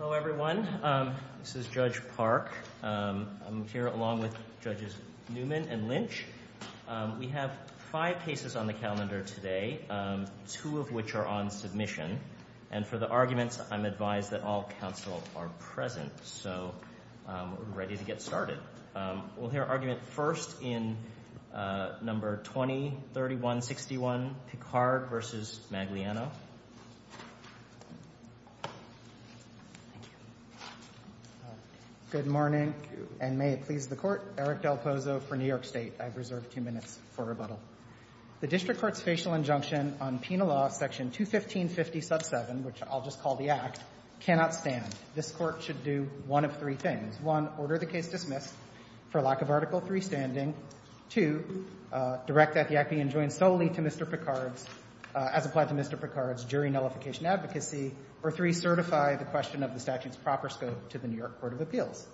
Hello, everyone. This is Judge Park. I'm here along with Judges Newman and Lynch. We have five cases on the calendar today, two of which are on submission. And for the arguments, I'm advised that all counsel are present, so we're ready to get started. We'll hear argument first in No. 20-3161, Picard v. Magliano. Thank you. Good morning, and may it please the Court. Eric Del Pozo for New York State. I've reserved two minutes for rebuttal. The District Court's facial injunction on Penal Law, Section 21550, sub 7, which I'll just call the Act, cannot stand. This Court should do one of three things. One, order the case dismissed for lack of Article III standing. Two, direct that the Act be enjoined solely to Mr. Picard's, as applied to Mr. Picard's, jury nullification advocacy. Or three, certify the question of the statute's proper scope to the New York Court of Appeals.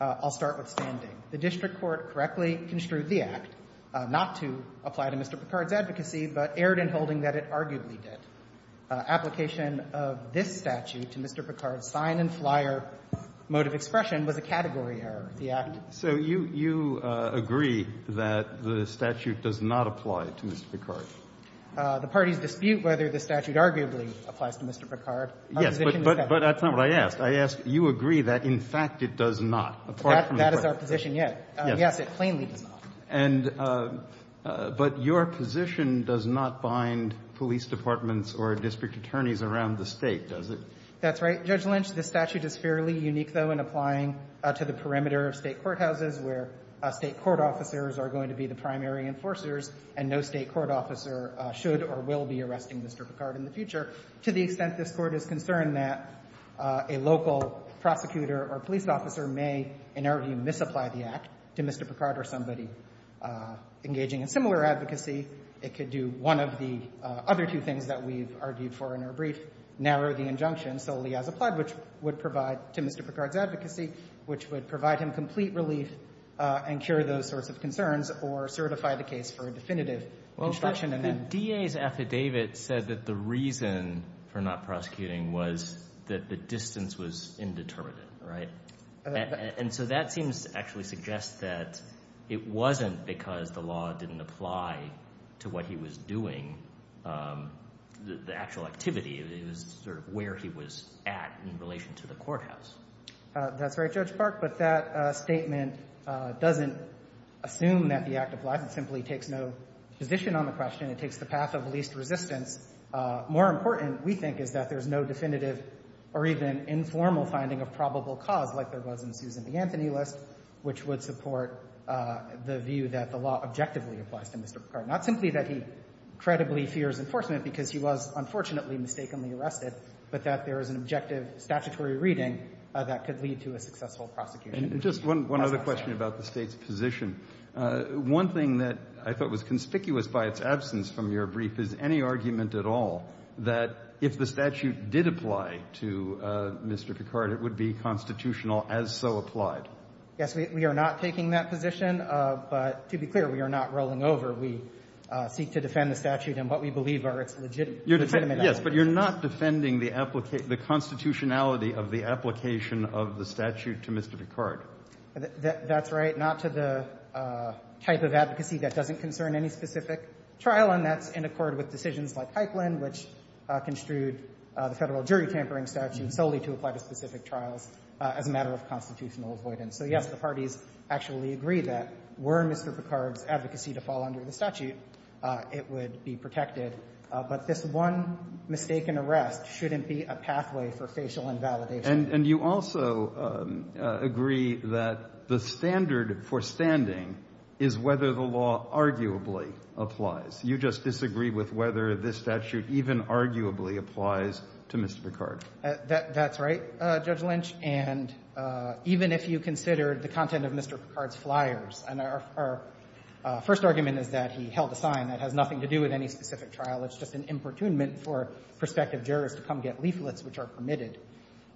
I'll start with standing. The District Court correctly construed the Act not to apply to Mr. Picard's advocacy, but erred in holding that it arguably did. Application of this statute to Mr. Picard's sign-and-flyer mode of expression was a category error of the Act. So you agree that the statute does not apply to Mr. Picard? The parties dispute whether the statute arguably applies to Mr. Picard. Yes, but that's not what I asked. I asked, you agree that, in fact, it does not. That is our position, yes. Yes, it plainly does not. And but your position does not bind police departments or district attorneys around the State, does it? That's right. Judge Lynch, the statute is fairly unique, though, in applying to the perimeter of State courthouses where State court officers are going to be the primary enforcers and no State court officer should or will be arresting Mr. Picard in the future to the extent this Court is concerned that a local prosecutor or police officer may, in our view, misapply the Act to Mr. Picard or somebody engaging in similar advocacy. It could do one of the other two things that we've argued for in our brief, narrow the injunction solely as applied, which would provide to Mr. Picard's advocacy, which would provide him complete relief and cure those sorts of concerns or certify the case for a definitive construction. Well, but the DA's affidavit said that the reason for not prosecuting was that the distance was indeterminate, right? And so that seems to actually suggest that it wasn't because the law didn't apply to what he was doing, the actual activity. It was sort of where he was at in relation to the courthouse. That's right, Judge Park. But that statement doesn't assume that the Act applies. It simply takes no position on the question. It takes the path of least resistance. More important, we think, is that there's no definitive or even informal finding of probable cause like there was in Susan B. Anthony's list, which would support the view that the law objectively applies to Mr. Picard, not simply that he credibly fears enforcement because he was, unfortunately, mistakenly arrested, but that there is an objective statutory reading that could lead to a successful prosecution. And just one other question about the State's position. One thing that I thought was conspicuous by its absence from your brief is any argument at all that if the statute did apply to Mr. Picard, it would be constitutional as so applied. Yes. We are not taking that position. But to be clear, we are not rolling over. We seek to defend the statute in what we believe are its legitimate arguments. Yes. But you're not defending the constitutionality of the application of the statute to Mr. Picard. That's right. Not to the type of advocacy that doesn't concern any specific trial, let alone that's in accord with decisions like Hykland, which construed the Federal jury tampering statute solely to apply to specific trials as a matter of constitutional avoidance. So, yes, the parties actually agree that were Mr. Picard's advocacy to fall under the statute, it would be protected. But this one mistaken arrest shouldn't be a pathway for facial invalidation. And you also agree that the standard for standing is whether the law arguably applies. You just disagree with whether this statute even arguably applies to Mr. Picard. That's right, Judge Lynch. And even if you consider the content of Mr. Picard's flyers. And our first argument is that he held a sign that has nothing to do with any specific trial. It's just an importunment for prospective jurors to come get leaflets which are permitted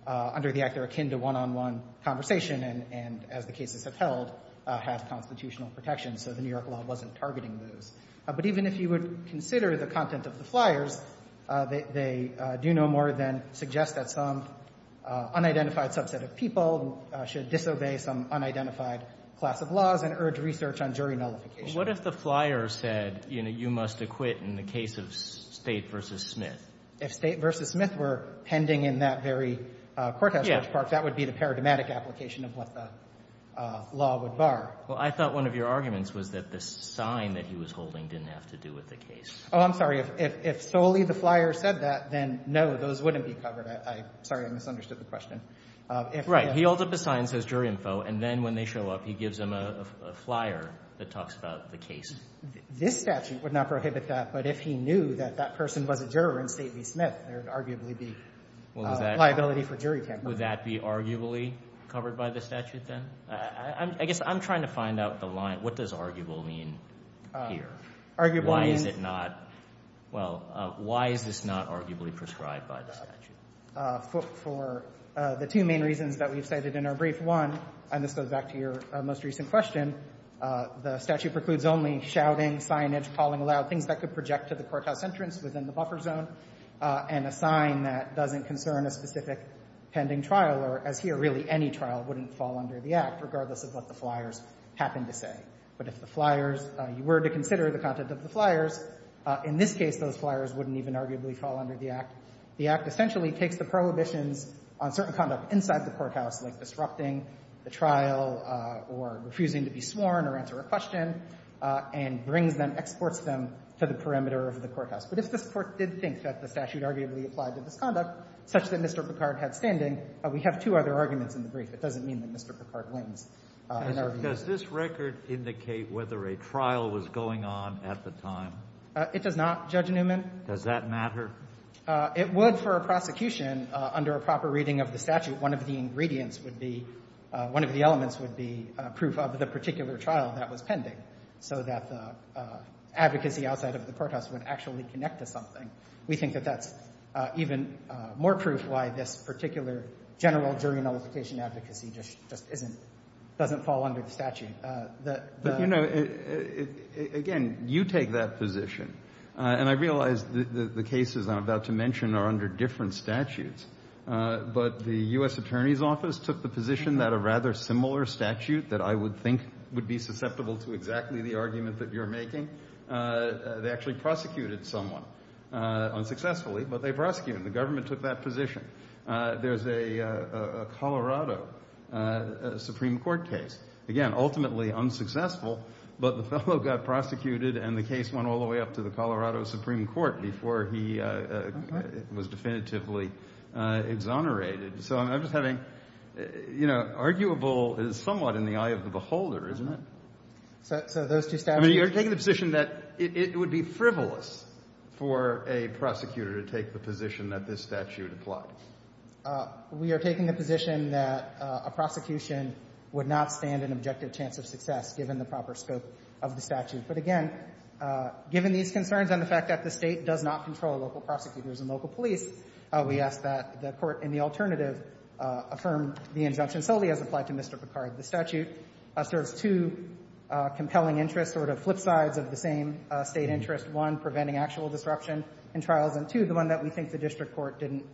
under the act. They're akin to one-on-one conversation. And as the cases have held, have constitutional protection. So the New York law wasn't targeting those. But even if you would consider the content of the flyers, they do no more than suggest that some unidentified subset of people should disobey some unidentified class of laws and urge research on jury nullification. What if the flyer said, you know, you must acquit in the case of State v. Smith? If State v. Smith were pending in that very courthouse, Judge Parks, that would be the paradigmatic application of what the law would bar. Well, I thought one of your arguments was that the sign that he was holding didn't have to do with the case. Oh, I'm sorry. If solely the flyer said that, then no, those wouldn't be covered. I'm sorry. I misunderstood the question. Right. He holds up a sign that says jury info. And then when they show up, he gives them a flyer that talks about the case. This statute would not prohibit that. But if he knew that that person was a juror in State v. Smith, there would arguably be liability for jury tamping. Would that be arguably covered by the statute then? I guess I'm trying to find out the line. What does arguably mean here? Arguably means. Why is it not? Well, why is this not arguably prescribed by the statute? For the two main reasons that we've cited in our brief. One, and this goes back to your most recent question, the statute precludes only shouting, signage, calling aloud, things that could project to the courthouse entrance within the buffer zone, and a sign that doesn't concern a specific pending trial or, as here, really any trial wouldn't fall under the Act, regardless of what the flyers happen to say. But if the flyers, you were to consider the content of the flyers, in this case, those flyers wouldn't even arguably fall under the Act. The Act essentially takes the prohibitions on certain conduct inside the courthouse, like disrupting the trial or refusing to be sworn or answer a question, and brings them, exports them to the perimeter of the courthouse. But if this Court did think that the statute arguably applied to this conduct such that Mr. Picard had standing, we have two other arguments in the brief. It doesn't mean that Mr. Picard wins in our view. Does this record indicate whether a trial was going on at the time? It does not, Judge Newman. Does that matter? It would for a prosecution under a proper reading of the statute. One of the ingredients would be, one of the elements would be proof of the particular trial that was pending, so that the advocacy outside of the courthouse would actually connect to something. We think that that's even more proof why this particular general jury nullification advocacy just isn't, doesn't fall under the statute. But, you know, again, you take that position. And I realize that the cases I'm about to mention are under different statutes. But the U.S. Attorney's Office took the position that a rather similar statute that I would think would be susceptible to exactly the argument that you're making, they actually prosecuted someone unsuccessfully, but they prosecuted him. The government took that position. There's a Colorado Supreme Court case, again, ultimately unsuccessful, but the fellow got prosecuted and the case went all the way up to the Colorado Supreme Court before he was definitively exonerated. So I'm just having, you know, arguable is somewhat in the eye of the beholder, isn't it? So those two statutes I mean, you're taking the position that it would be frivolous for a prosecutor to take the position that this statute applied. We are taking the position that a prosecution would not stand an objective chance of success given the proper scope of the statute. But, again, given these concerns and the fact that the State does not control local prosecutors and local police, we ask that the Court in the alternative affirm the injunction solely as applied to Mr. Picard. The statute serves two compelling interests, sort of flip sides of the same State interest, one, preventing actual disruption in trials, and two, the one that we think the district court didn't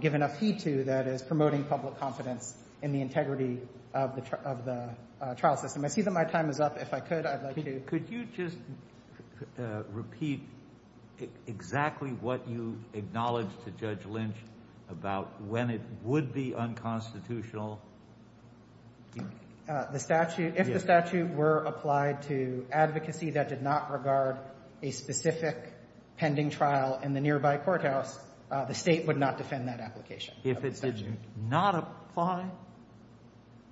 give enough heed to, that is promoting public confidence in the integrity of the trial system. I see that my time is up. If I could, I'd like to Could you just repeat exactly what you acknowledged to Judge Lynch about when it would be unconstitutional? If the statute were applied to advocacy that did not regard a specific pending trial in the nearby courthouse, the State would not defend that application of the statute. If it did not apply?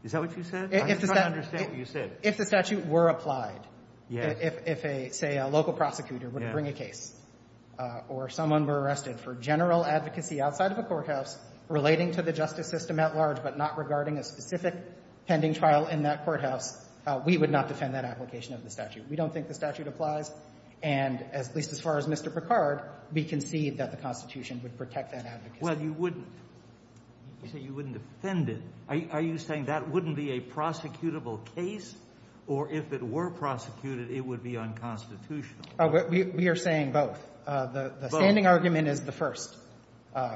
Is that what you said? I'm just trying to understand what you said. If the statute were applied, if, say, a local prosecutor would bring a case or someone were arrested for general advocacy outside of a courthouse relating to the justice system at large but not regarding a specific pending trial in that courthouse, we would not defend that application of the statute. We don't think the statute applies. And at least as far as Mr. Picard, we concede that the Constitution would protect that advocacy. Well, you wouldn't. You say you wouldn't defend it. Are you saying that wouldn't be a prosecutable case, or if it were prosecuted, it would be unconstitutional? We are saying both. The standing argument is the first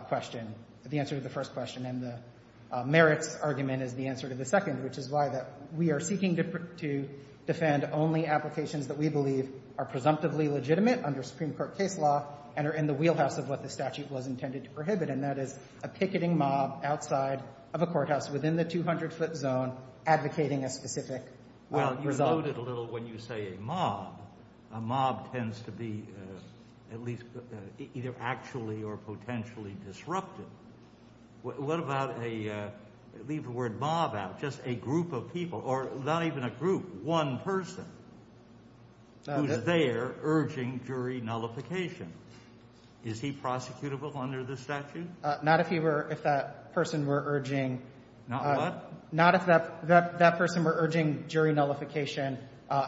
question, the answer to the first question. And the merits argument is the answer to the second, which is why that we are seeking to defend only applications that we believe are presumptively legitimate under Supreme Court case law and are in the wheelhouse of what the statute was intended to prohibit, and that is a picketing mob outside of a courthouse within the 200-foot zone advocating a specific result. Well, you promote it a little when you say a mob. A mob tends to be at least either actually or potentially disrupted. What about a, leave the word mob out, just a group of people, or not even a group, one person who is there urging jury nullification? Is he prosecutable under the statute? Not if he were, if that person were urging. Not what? Not if that person were urging jury nullification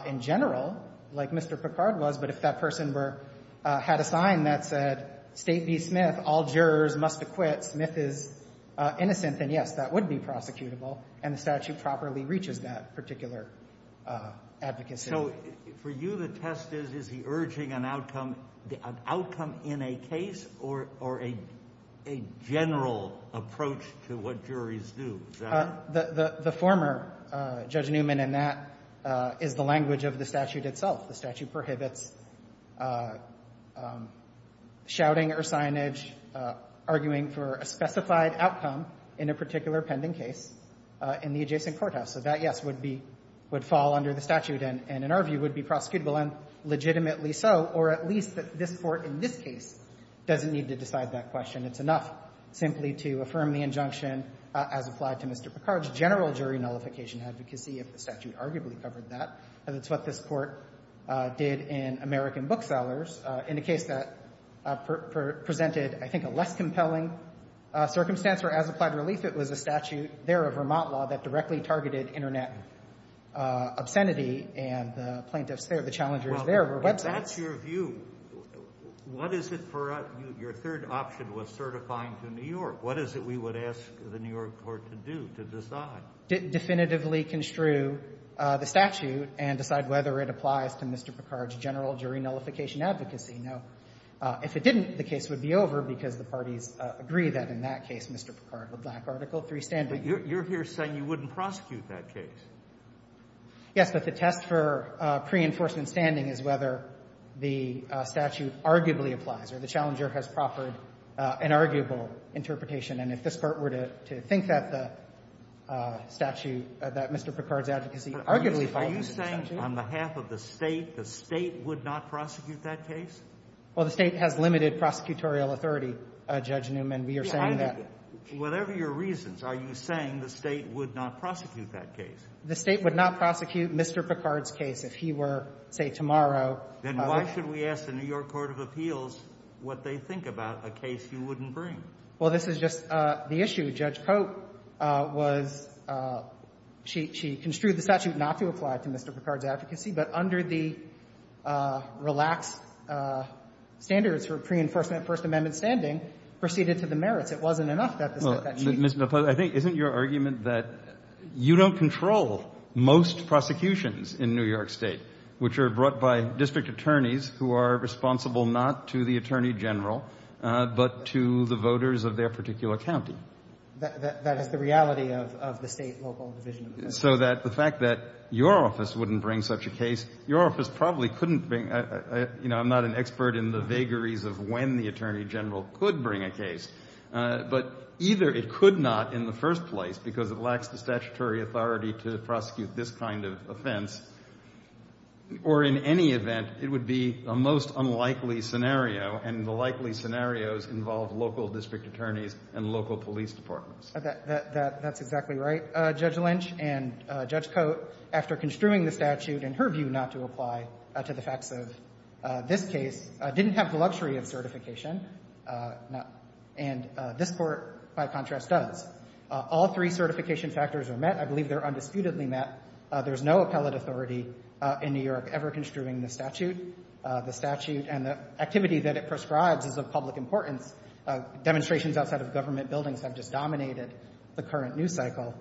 in general, like Mr. Picard was, but if that person were, had a sign that said, State v. Smith, all jurors must acquit, Smith is innocent, then, yes, that would be prosecutable, and the statute properly reaches that particular advocacy. So for you, the test is, is he urging an outcome, an outcome in a case or a general approach to what juries do? Is that it? The former, Judge Newman, and that is the language of the statute itself. The statute prohibits shouting or signage, arguing for a specified outcome in a particular pending case in the adjacent courthouse. So that, yes, would be, would fall under the statute and, in our view, would be prosecutable, and legitimately so, or at least that this Court in this case doesn't need to decide that question. It's enough simply to affirm the injunction as applied to Mr. Picard's general jury nullification advocacy, if the statute arguably covered that. And it's what this Court did in American Booksellers in a case that presented, I think, a less compelling circumstance, where as applied relief, it was a statute there of Vermont law that directly targeted Internet obscenity, and the plaintiffs there, the challengers there were websites. Kennedy, what's your view? What is it for us? Your third option was certifying to New York. What is it we would ask the New York court to do, to decide? Definitively construe the statute and decide whether it applies to Mr. Picard's general jury nullification advocacy. Now, if it didn't, the case would be over because the parties agree that in that case, Mr. Picard would lack Article III standing. But you're here saying you wouldn't prosecute that case. Yes, but the test for pre-enforcement standing is whether the statute arguably applies, or the challenger has proffered an arguable interpretation. And if this Court were to think that the statute, that Mr. Picard's advocacy arguably falls under the statute. Are you saying on behalf of the State, the State would not prosecute that case? Well, the State has limited prosecutorial authority, Judge Newman. We are saying that. Whatever your reasons, are you saying the State would not prosecute that case? The State would not prosecute Mr. Picard's case if he were, say, tomorrow. Then why should we ask the New York court of appeals what they think about a case you wouldn't bring? Well, this is just the issue. Judge Cope was — she construed the statute not to apply to Mr. Picard's advocacy, but under the relaxed standards for pre-enforcement of First Amendment standing proceeded to the merits. It wasn't enough that the State — Well, Mr. — I think, isn't your argument that you don't control most prosecutions in New York State, which are brought by district attorneys who are responsible not to the attorney general, but to the voters of their particular county? That is the reality of the State local division. So that the fact that your office wouldn't bring such a case, your office probably couldn't bring — you know, I'm not an expert in the vagaries of when the attorney general could bring a case, but either it could not in the first place because it lacks the statutory authority to prosecute this kind of offense, or in any event, it would be a most unlikely scenario, and the likely scenarios involve local district attorneys and local police departments. That's exactly right. Judge Lynch and Judge Cope, after construing the statute in her view not to apply to the facts of this case, didn't have the luxury of certification. And this Court, by contrast, does. All three certification factors are met. I believe they're undisputedly met. There's no appellate authority in New York ever construing the statute. The statute and the activity that it prescribes is of public importance. Demonstrations outside of government buildings have just dominated the current news cycle.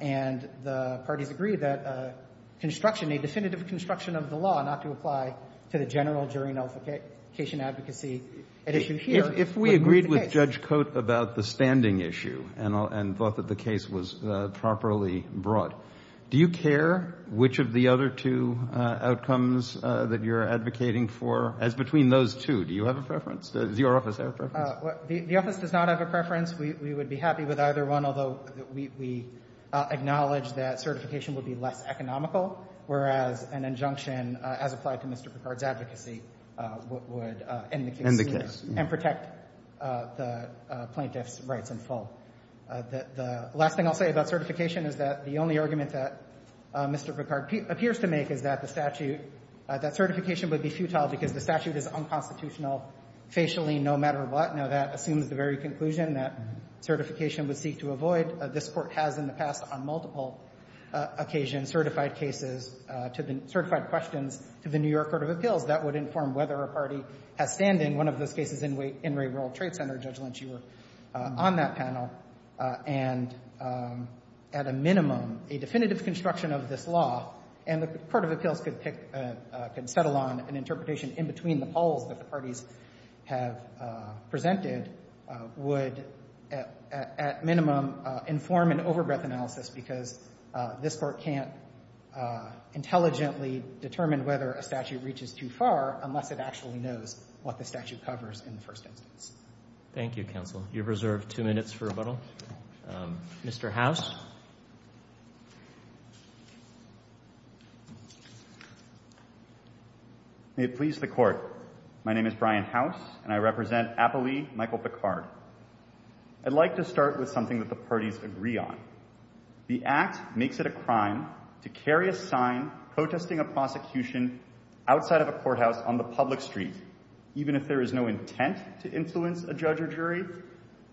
And the parties agree that construction, a definitive construction of the law not to apply to the general jurisdiction advocacy at issue here would move the case. If we agreed with Judge Cope about the standing issue and thought that the case was properly brought, do you care which of the other two outcomes that you're advocating for? As between those two, do you have a preference? Does your office have a preference? The office does not have a preference. We would be happy with either one, although we acknowledge that certification would be less economical, whereas an injunction as applied to Mr. Picard's advocacy would end the case. End the case. And protect the plaintiff's rights in full. The last thing I'll say about certification is that the only argument that Mr. Picard appears to make is that the statute, that certification would be futile because the statute is unconstitutional facially no matter what. Now, that assumes the very conclusion that certification would seek to avoid. This Court has in the past on multiple occasions certified cases to the ñ certified questions to the New York Court of Appeals that would inform whether a party has standing. One of those cases, In re Rural Trade Center, Judge Lynch, you were on that panel. And at a minimum, a definitive construction of this law, and the Court of Appeals could pick ñ could settle on an interpretation in between the polls that the parties have presented would, at minimum, inform an overbreadth analysis because this Court can't intelligently determine whether a statute reaches too far unless it actually knows what the statute covers in the first instance. Roberts. Thank you, counsel. You have reserved two minutes for rebuttal. Mr. House. May it please the Court. My name is Brian House, and I represent Appalee Michael Picard. I'd like to start with something that the parties agree on. The Act makes it a crime to carry a sign protesting a prosecution outside of a courthouse on the public street, even if there is no intent to influence a judge or jury,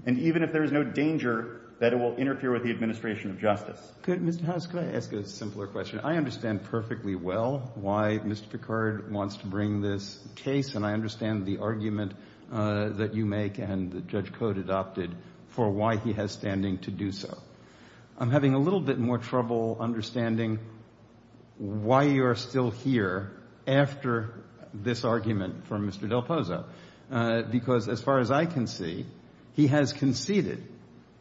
and even if there is no danger that it will interfere with the administration of justice. Mr. House, could I ask a simpler question? I understand perfectly well why Mr. Picard wants to bring this case, and I understand the argument that you make and that Judge Cote adopted for why he has standing to do so. I'm having a little bit more trouble understanding why you're still here after this is over. Well, I think it's fair to say that Mr. Picard has decided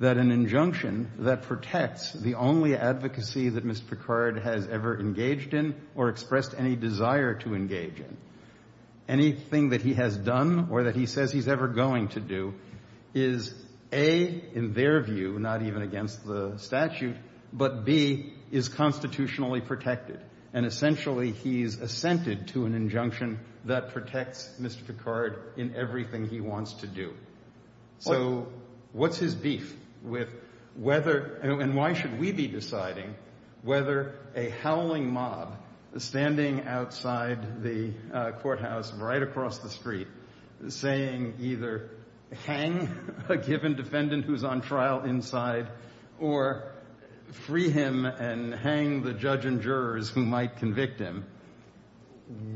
that an injunction that protects the only advocacy that Mr. Picard has ever engaged in or expressed any desire to engage in, anything that he has done or that he says he's ever going to do, is, A, in their view, not even against the statute, but, B, is constitutionally protected, and essentially he's assented to an injunction that protects Mr. Picard in everything he wants to do. So what's his beef with whether, and why should we be deciding, whether a howling mob standing outside the courthouse right across the street saying either hang a given defendant who's on trial inside or free him and hang the judge and jurors who might convict him?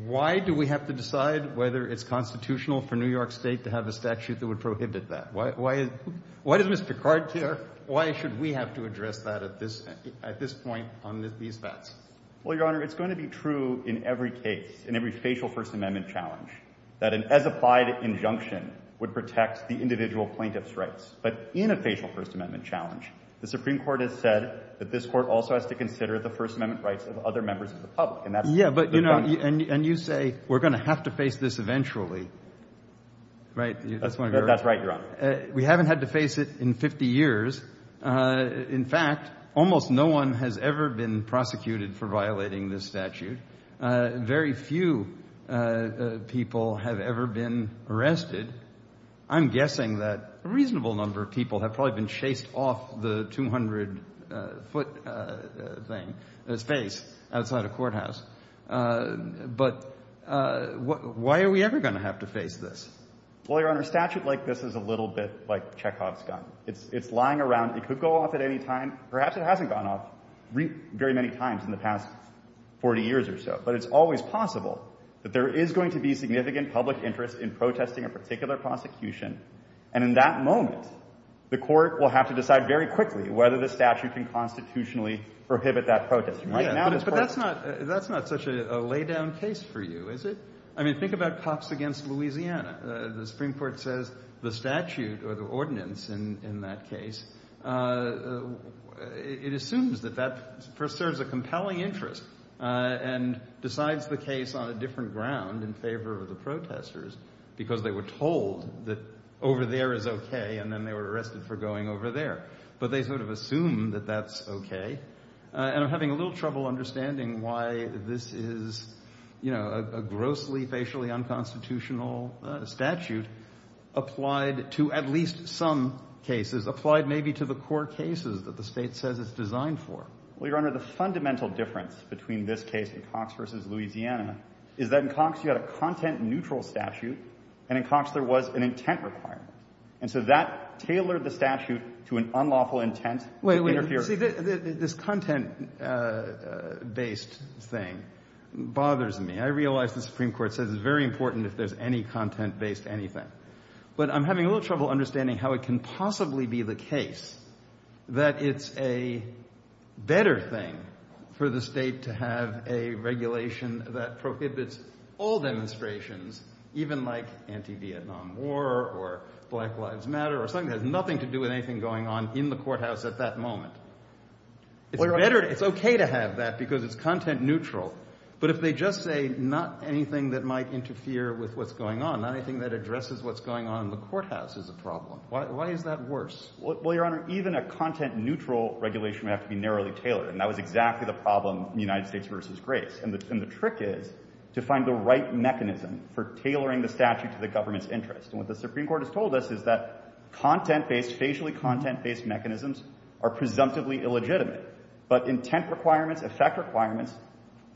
Why do we have to decide whether it's constitutional for New York State to have a statute that would prohibit that? Why does Mr. Picard care? Why should we have to address that at this point on these facts? Well, Your Honor, it's going to be true in every case, in every facial First Amendment challenge, that an as-applied injunction would protect the individual plaintiff's rights, but in a facial First Amendment challenge, the Supreme Court has said that this Court also has to consider the First Amendment rights of other members of the And that's the difference. Yeah, but, you know, and you say we're going to have to face this eventually, right? That's right, Your Honor. We haven't had to face it in 50 years. In fact, almost no one has ever been prosecuted for violating this statute. Very few people have ever been arrested. I'm guessing that a reasonable number of people have probably been chased off the 200-foot thing, space, outside a courthouse. But why are we ever going to have to face this? Well, Your Honor, a statute like this is a little bit like Chekhov's gun. It's lying around. It could go off at any time. Perhaps it hasn't gone off very many times in the past 40 years or so, but it's always possible that there is going to be significant public interest in protesting a particular prosecution. And in that moment, the Court will have to decide very quickly whether the statute can constitutionally prohibit that protest. But that's not such a laid-down case for you, is it? I mean, think about cops against Louisiana. The Supreme Court says the statute or the ordinance in that case, it assumes that that serves a compelling interest and decides the case on a different ground in favor of the case where they were told that over there is okay and then they were arrested for going over there. But they sort of assume that that's okay. And I'm having a little trouble understanding why this is, you know, a grossly, facially unconstitutional statute applied to at least some cases, applied maybe to the core cases that the State says it's designed for. Well, Your Honor, the fundamental difference between this case and Cox v. Louisiana is that in Cox you had a content-neutral statute and in Cox there was an intent requirement. And so that tailored the statute to an unlawful intent to interfere. Wait, wait. See, this content-based thing bothers me. I realize the Supreme Court says it's very important if there's any content-based anything. But I'm having a little trouble understanding how it can possibly be the case that it's a better thing for the State to have a regulation that prohibits all demonstrations, even like anti-Vietnam War or Black Lives Matter or something that has nothing to do with anything going on in the courthouse at that moment. It's better, it's okay to have that because it's content-neutral. But if they just say not anything that might interfere with what's going on, not anything that addresses what's going on in the courthouse is a problem. Why is that worse? Well, Your Honor, even a content-neutral regulation would have to be narrowly tailored. And that was exactly the problem in United States v. Grace. And the trick is to find the right mechanism for tailoring the statute to the government's interest. And what the Supreme Court has told us is that content-based, facially content-based mechanisms are presumptively illegitimate. But intent requirements, effect requirements,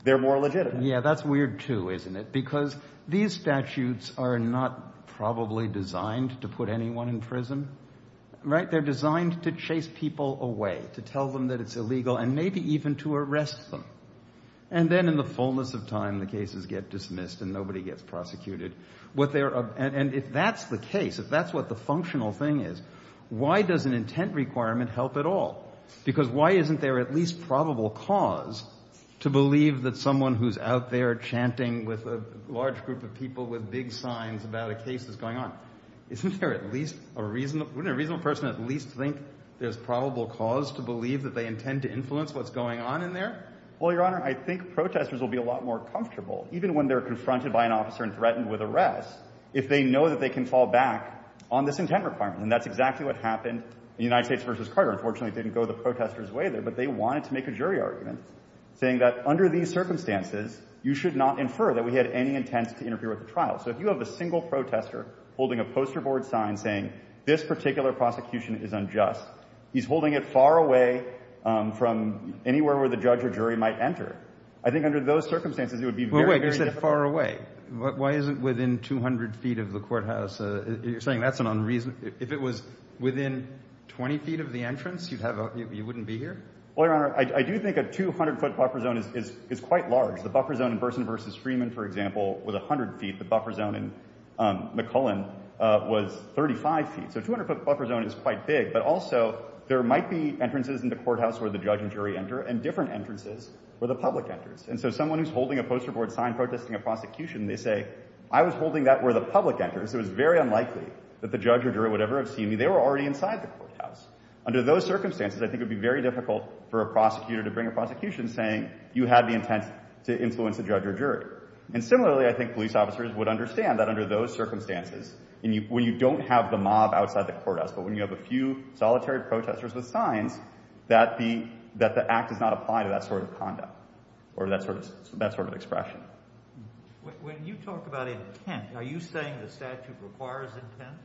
they're more legitimate. Yeah, that's weird too, isn't it? Because these statutes are not probably designed to put anyone in prison, right? They're designed to chase people away, to tell them that it's illegal and maybe even to arrest them. And then in the fullness of time, the cases get dismissed and nobody gets prosecuted. And if that's the case, if that's what the functional thing is, why does an intent requirement help at all? Because why isn't there at least probable cause to believe that someone who's out there chanting with a large group of people with big signs about a case that's going on, isn't there at least a reasonable, wouldn't a reasonable person at least think there's probable cause to believe that they intend to influence what's going on in there? Well, Your Honor, I think protesters will be a lot more comfortable, even when they're confronted by an officer and threatened with arrest, if they know that they can fall back on this intent requirement. And that's exactly what happened in the United States v. Carter. Unfortunately, it didn't go the protester's way there. But they wanted to make a jury argument saying that under these circumstances, you should not infer that we had any intent to interfere with the trial. So if you have a single protester holding a poster board sign saying this particular prosecution is unjust, he's holding it far away from anywhere where the judge or jury might enter. I think under those circumstances, it would be very, very difficult. Well, wait, you said far away. Why isn't within 200 feet of the courthouse? You're saying that's an unreasonable, if it was within 20 feet of the entrance, you wouldn't be here? Well, Your Honor, I do think a 200-foot buffer zone is quite large. The buffer zone in Burson v. Freeman, for example, was 100 feet. The buffer zone in McCullen was 35 feet. So a 200-foot buffer zone is quite big. But also, there might be entrances in the courthouse where the judge and jury enter and different entrances where the public enters. And so someone who's holding a poster board sign protesting a prosecution, they say, I was holding that where the public enters. It was very unlikely that the judge or jury would ever have seen me. They were already inside the courthouse. Under those circumstances, I think it would be very difficult for a prosecutor to bring in a prosecution saying you had the intent to influence a judge or jury. And similarly, I think police officers would understand that under those circumstances, when you don't have the mob outside the courthouse, but when you have a few solitary protesters with signs, that the act does not apply to that sort of conduct or that sort of expression. When you talk about intent, are you saying the statute requires intent?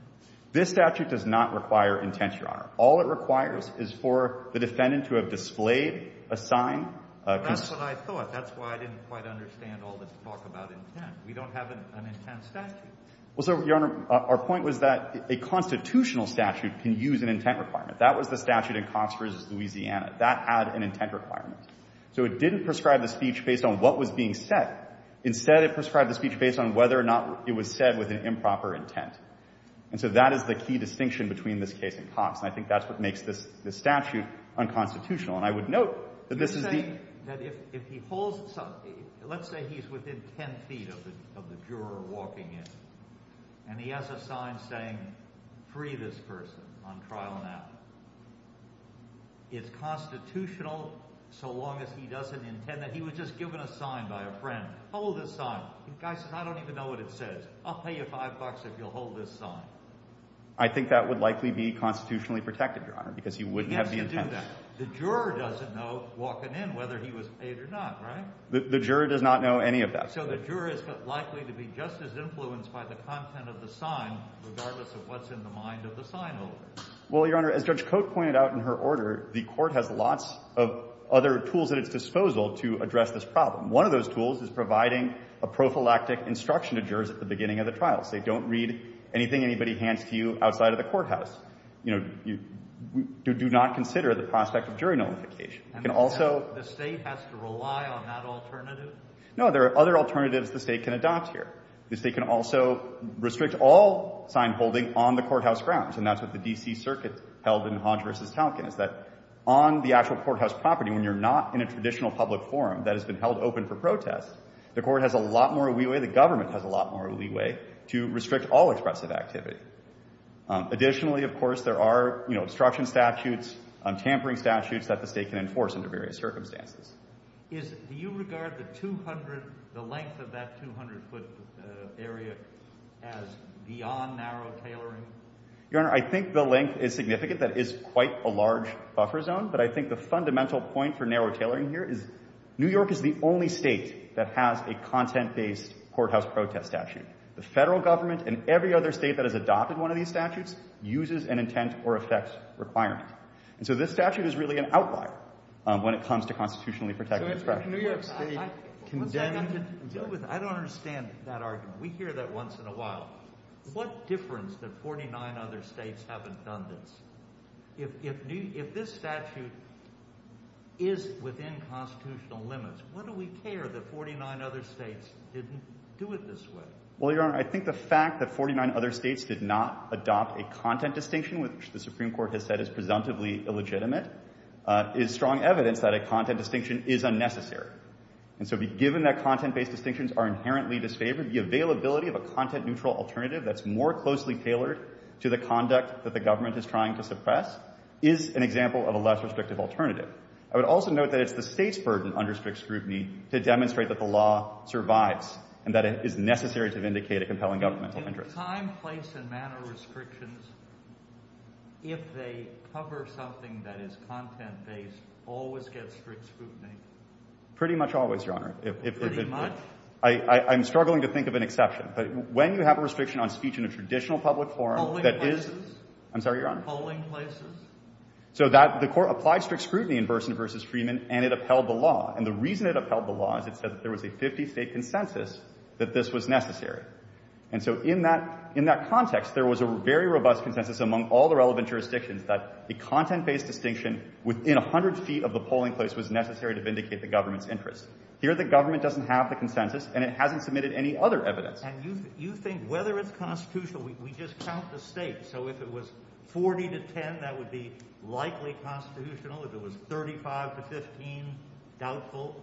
This statute does not require intent, Your Honor. All it requires is for the defendant to have displayed a sign. That's what I thought. That's why I didn't quite understand all this talk about intent. We don't have an intent statute. Well, so, Your Honor, our point was that a constitutional statute can use an intent requirement. That was the statute in Cox v. Louisiana. That had an intent requirement. So it didn't prescribe the speech based on what was being said. Instead, it prescribed the speech based on whether or not it was said with an improper intent. And so that is the key distinction between this case and Cox. And I think that's what makes this statute unconstitutional. And I would note that this is the... You're saying that if he holds... Let's say he's within 10 feet of the juror walking in. And he has a sign saying, free this person on trial now. It's constitutional so long as he doesn't intend that. He was just given a sign by a friend. Hold this sign. The guy says, I don't even know what it says. I'll pay you five bucks if you'll hold this sign. I think that would likely be constitutionally protected, Your Honor, because he wouldn't have the intent. He has to do that. The juror doesn't know walking in whether he was paid or not, right? The juror does not know any of that. So the juror is likely to be just as influenced by the content of the sign regardless of what's in the mind of the sign holder. Well, Your Honor, as Judge Cote pointed out in her order, the court has lots of other tools at its disposal to address this problem. One of those tools is providing a prophylactic instruction to jurors at the beginning of the trial. Say, don't read anything anybody hands to you outside of the courthouse. You know, do not consider the prospect of jury notification. You can also — The State has to rely on that alternative? No. There are other alternatives the State can adopt here. The State can also restrict all sign holding on the courthouse grounds, and that's what the D.C. Circuit held in Hodge v. Talkin is that on the actual courthouse property, when you're not in a traditional public forum that has been held open for protest, the court has a lot more leeway, the government has a lot more leeway, to restrict all expressive activity. Additionally, of course, there are, you know, obstruction statutes, tampering statutes that the State can enforce under various circumstances. Do you regard the 200 — the length of that 200-foot area as beyond narrow tailoring? Your Honor, I think the length is significant. That is quite a large buffer zone, but I think the fundamental point for narrow tailoring here is New York is the only state that has a content-based courthouse protest statute. The federal government and every other state that has adopted one of these statutes uses an intent-or-effects requirement. And so this statute is really an outlier when it comes to constitutionally protected expressions. I don't understand that argument. We hear that once in a while. What difference that 49 other states haven't done this? If this statute is within constitutional limits, why do we care that 49 other states didn't do it this way? Well, Your Honor, I think the fact that 49 other states did not adopt a content distinction, which the Supreme Court has said is presumptively illegitimate, is strong evidence that a content distinction is unnecessary. And so given that content-based distinctions are inherently disfavored, the availability of a content-neutral alternative that's more closely tailored to the conduct that the government is trying to suppress is an example of a less restrictive alternative. I would also note that it's the State's burden under strict scrutiny to demonstrate that the law survives and that it is necessary to vindicate a compelling governmental interest. Do time, place, and manner restrictions, if they cover something that is content-based, always get strict scrutiny? Pretty much always, Your Honor. Pretty much? I'm struggling to think of an exception. But when you have a restriction on speech in a traditional public forum that is — Polling places? I'm sorry, Your Honor. Polling places? So the Court applied strict scrutiny in Berson v. Freeman, and it upheld the law. And the reason it upheld the law is it said that there was a 50-State consensus that this was necessary. And so in that context, there was a very robust consensus among all the relevant jurisdictions that a content-based distinction within 100 feet of the polling place was necessary to vindicate the government's interest. Here, the government doesn't have the consensus, and it hasn't submitted any other evidence. And you think whether it's constitutional, we just count the States. So if it was 40 to 10, that would be likely constitutional. If it was 35 to 15, doubtful.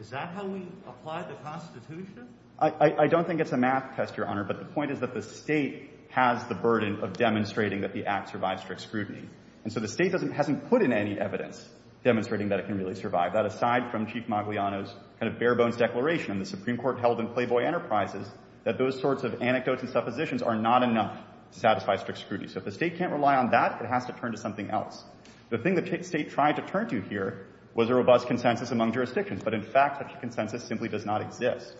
Is that how we apply the Constitution? I don't think it's a math test, Your Honor. But the point is that the State has the burden of demonstrating that the Act survives strict scrutiny. And so the State hasn't put in any evidence demonstrating that it can really survive. That aside from Chief Maguillano's kind of bare-bones declaration in the Supreme Court held in Playboy Enterprises that those sorts of anecdotes and suppositions are not enough to satisfy strict scrutiny. So if the State can't rely on that, it has to turn to something else. The thing the State tried to turn to here was a robust consensus among jurisdictions. But in fact, such a consensus simply does not exist.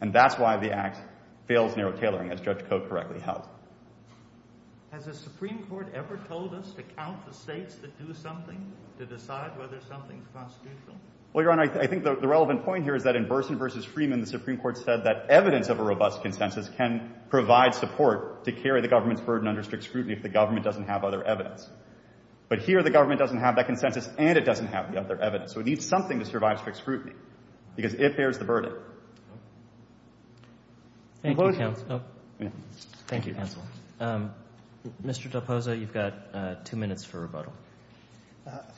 And that's why the Act fails narrow tailoring, as Judge Cote correctly held. Has the Supreme Court ever told us to count the States that do something to decide whether something's constitutional? Well, Your Honor, I think the relevant point here is that in Burson v. Freeman, the Supreme Court said that evidence of a robust consensus can provide support to carry the government's burden under strict scrutiny if the government doesn't have other evidence. But here the government doesn't have that consensus and it doesn't have the other evidence. So it needs something to survive strict scrutiny because it bears the burden. Thank you, counsel. Mr. Del Poso, you've got two minutes for rebuttal.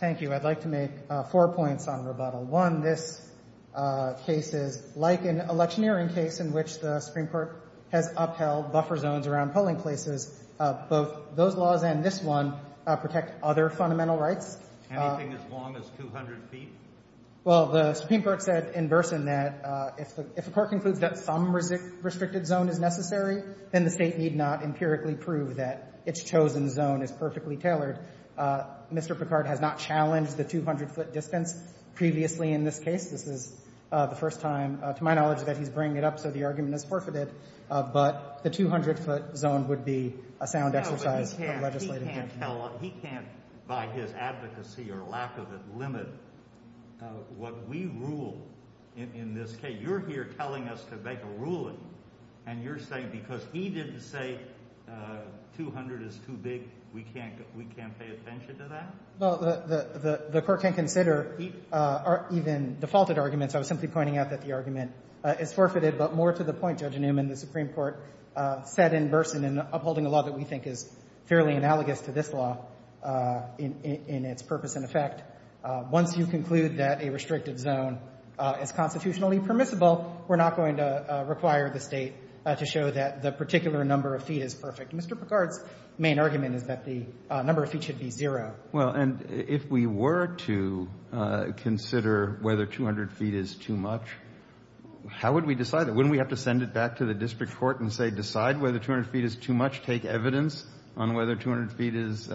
Thank you. I'd like to make four points on rebuttal. One, this case is like an electioneering case in which the Supreme Court has upheld buffer zones around polling places. Both those laws and this one protect other fundamental rights. Anything as long as 200 feet? Well, the Supreme Court said in Burson that if the Court concludes that some restricted zone is necessary, then the State need not empirically prove that its chosen zone is perfectly tailored. Mr. Picard has not challenged the 200-foot distance previously in this case. This is the first time, to my knowledge, that he's bringing it up, so the argument is forfeited. But the 200-foot zone would be a sound exercise of legislative judgment. He can't, by his advocacy or lack of it, limit what we rule in this case. You're here telling us to make a ruling, and you're saying because he didn't say 200 is too big, we can't pay attention to that? Well, the Court can consider even defaulted arguments. I was simply pointing out that the argument is forfeited, but more to the point, Judge Newman, the Supreme Court said in Burson, and upholding a law that we think is fairly analogous to this law in its purpose and effect, once you conclude that a restricted zone is constitutionally permissible, we're not going to require the State to show that the particular number of feet is perfect. Mr. Picard's main argument is that the number of feet should be zero. Well, and if we were to consider whether 200 feet is too much, how would we decide that, wouldn't we have to send it back to the district court and say decide whether 200 feet is too much, take evidence on whether 200 feet is,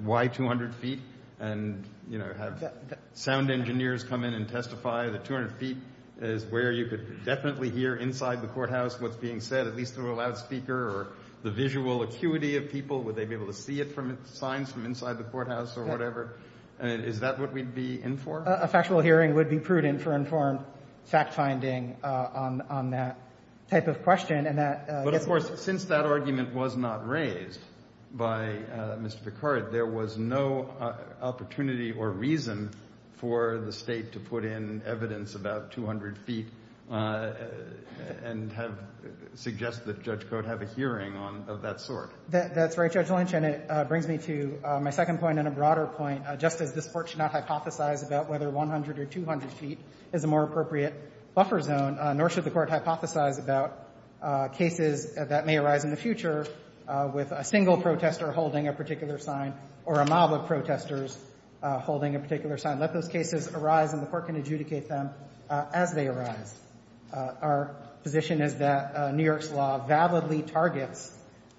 why 200 feet, and, you know, have sound engineers come in and testify that 200 feet is where you could definitely hear inside the courthouse what's being said, at least through a loudspeaker, or the visual acuity of people, would they be able to see it from signs from inside the courthouse or whatever? Is that what we'd be in for? A factual hearing would be prudent for informed fact-finding on that type of question, and that gets me. But, of course, since that argument was not raised by Mr. Picard, there was no opportunity or reason for the State to put in evidence about 200 feet and have suggested that Judge Cote have a hearing of that sort. That's right, Judge Lynch, and it brings me to my second point and a broader point. Just as this Court should not hypothesize about whether 100 or 200 feet is a more appropriate buffer zone, nor should the Court hypothesize about cases that may arise in the future with a single protester holding a particular sign or a mob of protesters holding a particular sign. Let those cases arise, and the Court can adjudicate them as they arise. Our position is that New York's law validly targets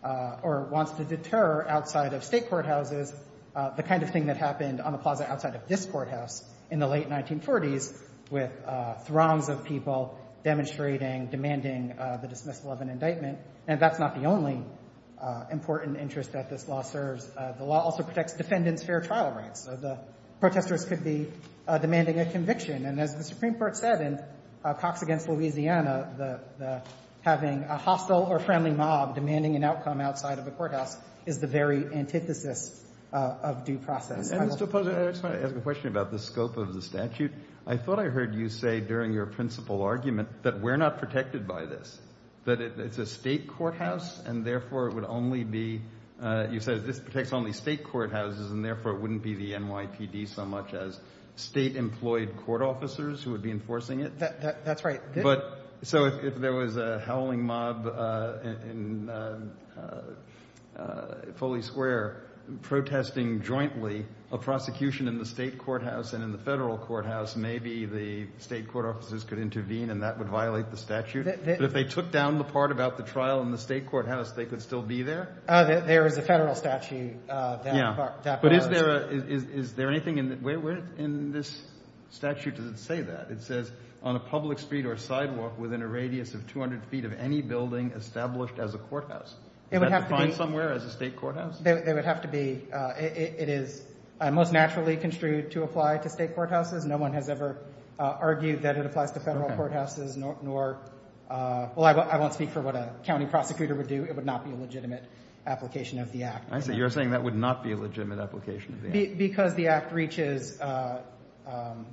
or wants to deter outside of State courthouses the kind of thing that happened on the plaza outside of this courthouse in the late 1940s with throngs of people demonstrating, demanding the dismissal of an indictment. And that's not the only important interest that this law serves. The law also protects defendants' fair trial rights. So the protesters could be demanding a conviction. And as the Supreme Court said in Cox v. Louisiana, having a hostile or friendly mob demanding an outcome outside of a courthouse is the very antithesis of due process. I just want to ask a question about the scope of the statute. I thought I heard you say during your principal argument that we're not protected by this, that it's a State courthouse, and therefore it would only be – you said this protects only State courthouses, and therefore it wouldn't be the NYPD so much as State-employed court officers who would be enforcing it. That's right. But so if there was a howling mob in Foley Square protesting jointly a prosecution in the State courthouse and in the Federal courthouse, maybe the State court officers could intervene, and that would violate the statute. But if they took down the part about the trial in the State courthouse, they could still be there? There is a Federal statute that bars – Yeah, but is there anything – where in this statute does it say that? It says, on a public street or sidewalk within a radius of 200 feet of any building established as a courthouse. Is that defined somewhere as a State courthouse? It would have to be – it is most naturally construed to apply to State courthouses. No one has ever argued that it applies to Federal courthouses, nor – well, I won't speak for what a county prosecutor would do. It would not be a legitimate application of the Act. You're saying that would not be a legitimate application of the Act. Because the Act reaches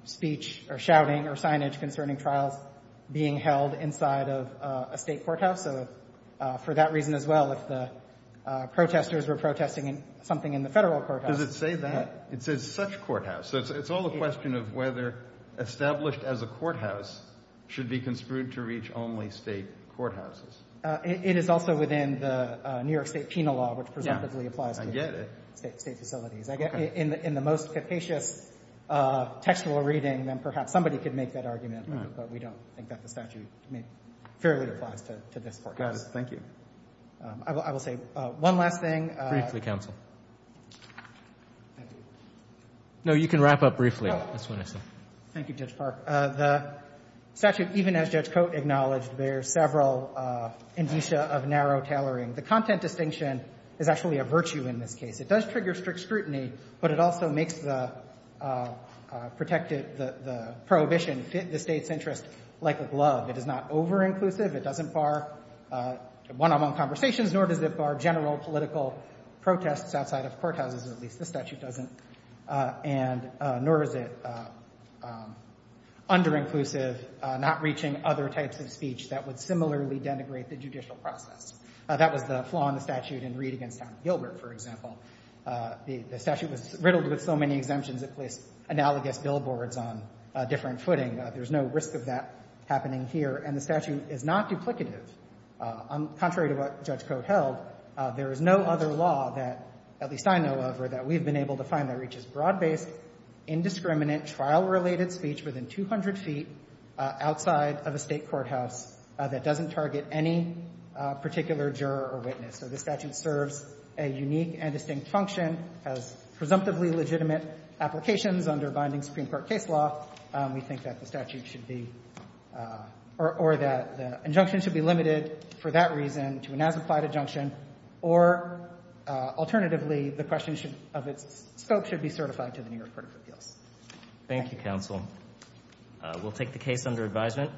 speech or shouting or signage concerning trials being held inside of a State courthouse. So for that reason as well, if the protesters were protesting something in the Federal courthouse – Does it say that? It says such courthouse. So it's all a question of whether established as a courthouse should be construed to reach only State courthouses. It is also within the New York State penal law, which presumptively applies to State facilities. In the most capacious textual reading, then perhaps somebody could make that argument, but we don't think that the statute fairly applies to this courthouse. Got it. Thank you. I will say one last thing. Briefly, counsel. Thank you. No, you can wrap up briefly. That's what I said. Thank you, Judge Park. The statute, even as Judge Cote acknowledged, bears several indicia of narrow tailoring. The content distinction is actually a virtue in this case. It does trigger strict scrutiny, but it also makes the prohibition fit the State's interest like a glove. It is not over-inclusive. It doesn't bar one-on-one conversations, nor does it bar general political protests outside of courthouses, at least this statute doesn't, and nor is it under-inclusive, not reaching other types of speech that would similarly denigrate the judicial process. That was the flaw in the statute in Reed v. Gilbert, for example. The statute was riddled with so many exemptions, it placed analogous billboards on a different footing. There's no risk of that happening here, and the statute is not duplicative. Contrary to what Judge Cote held, there is no other law that, at least I know of, or that we've been able to find that reaches broad-based, indiscriminate, trial-related speech within 200 feet outside of a State courthouse that doesn't target any particular juror or witness. So this statute serves a unique and distinct function, has presumptively legitimate applications under binding Supreme Court case law. We think that the statute should be, or that the injunction should be limited for that reason to an as-implied injunction, or alternatively, the question of its scope should be certified to the New York Court of Appeals. Thank you. Thank you, counsel. We'll take the case under advisement.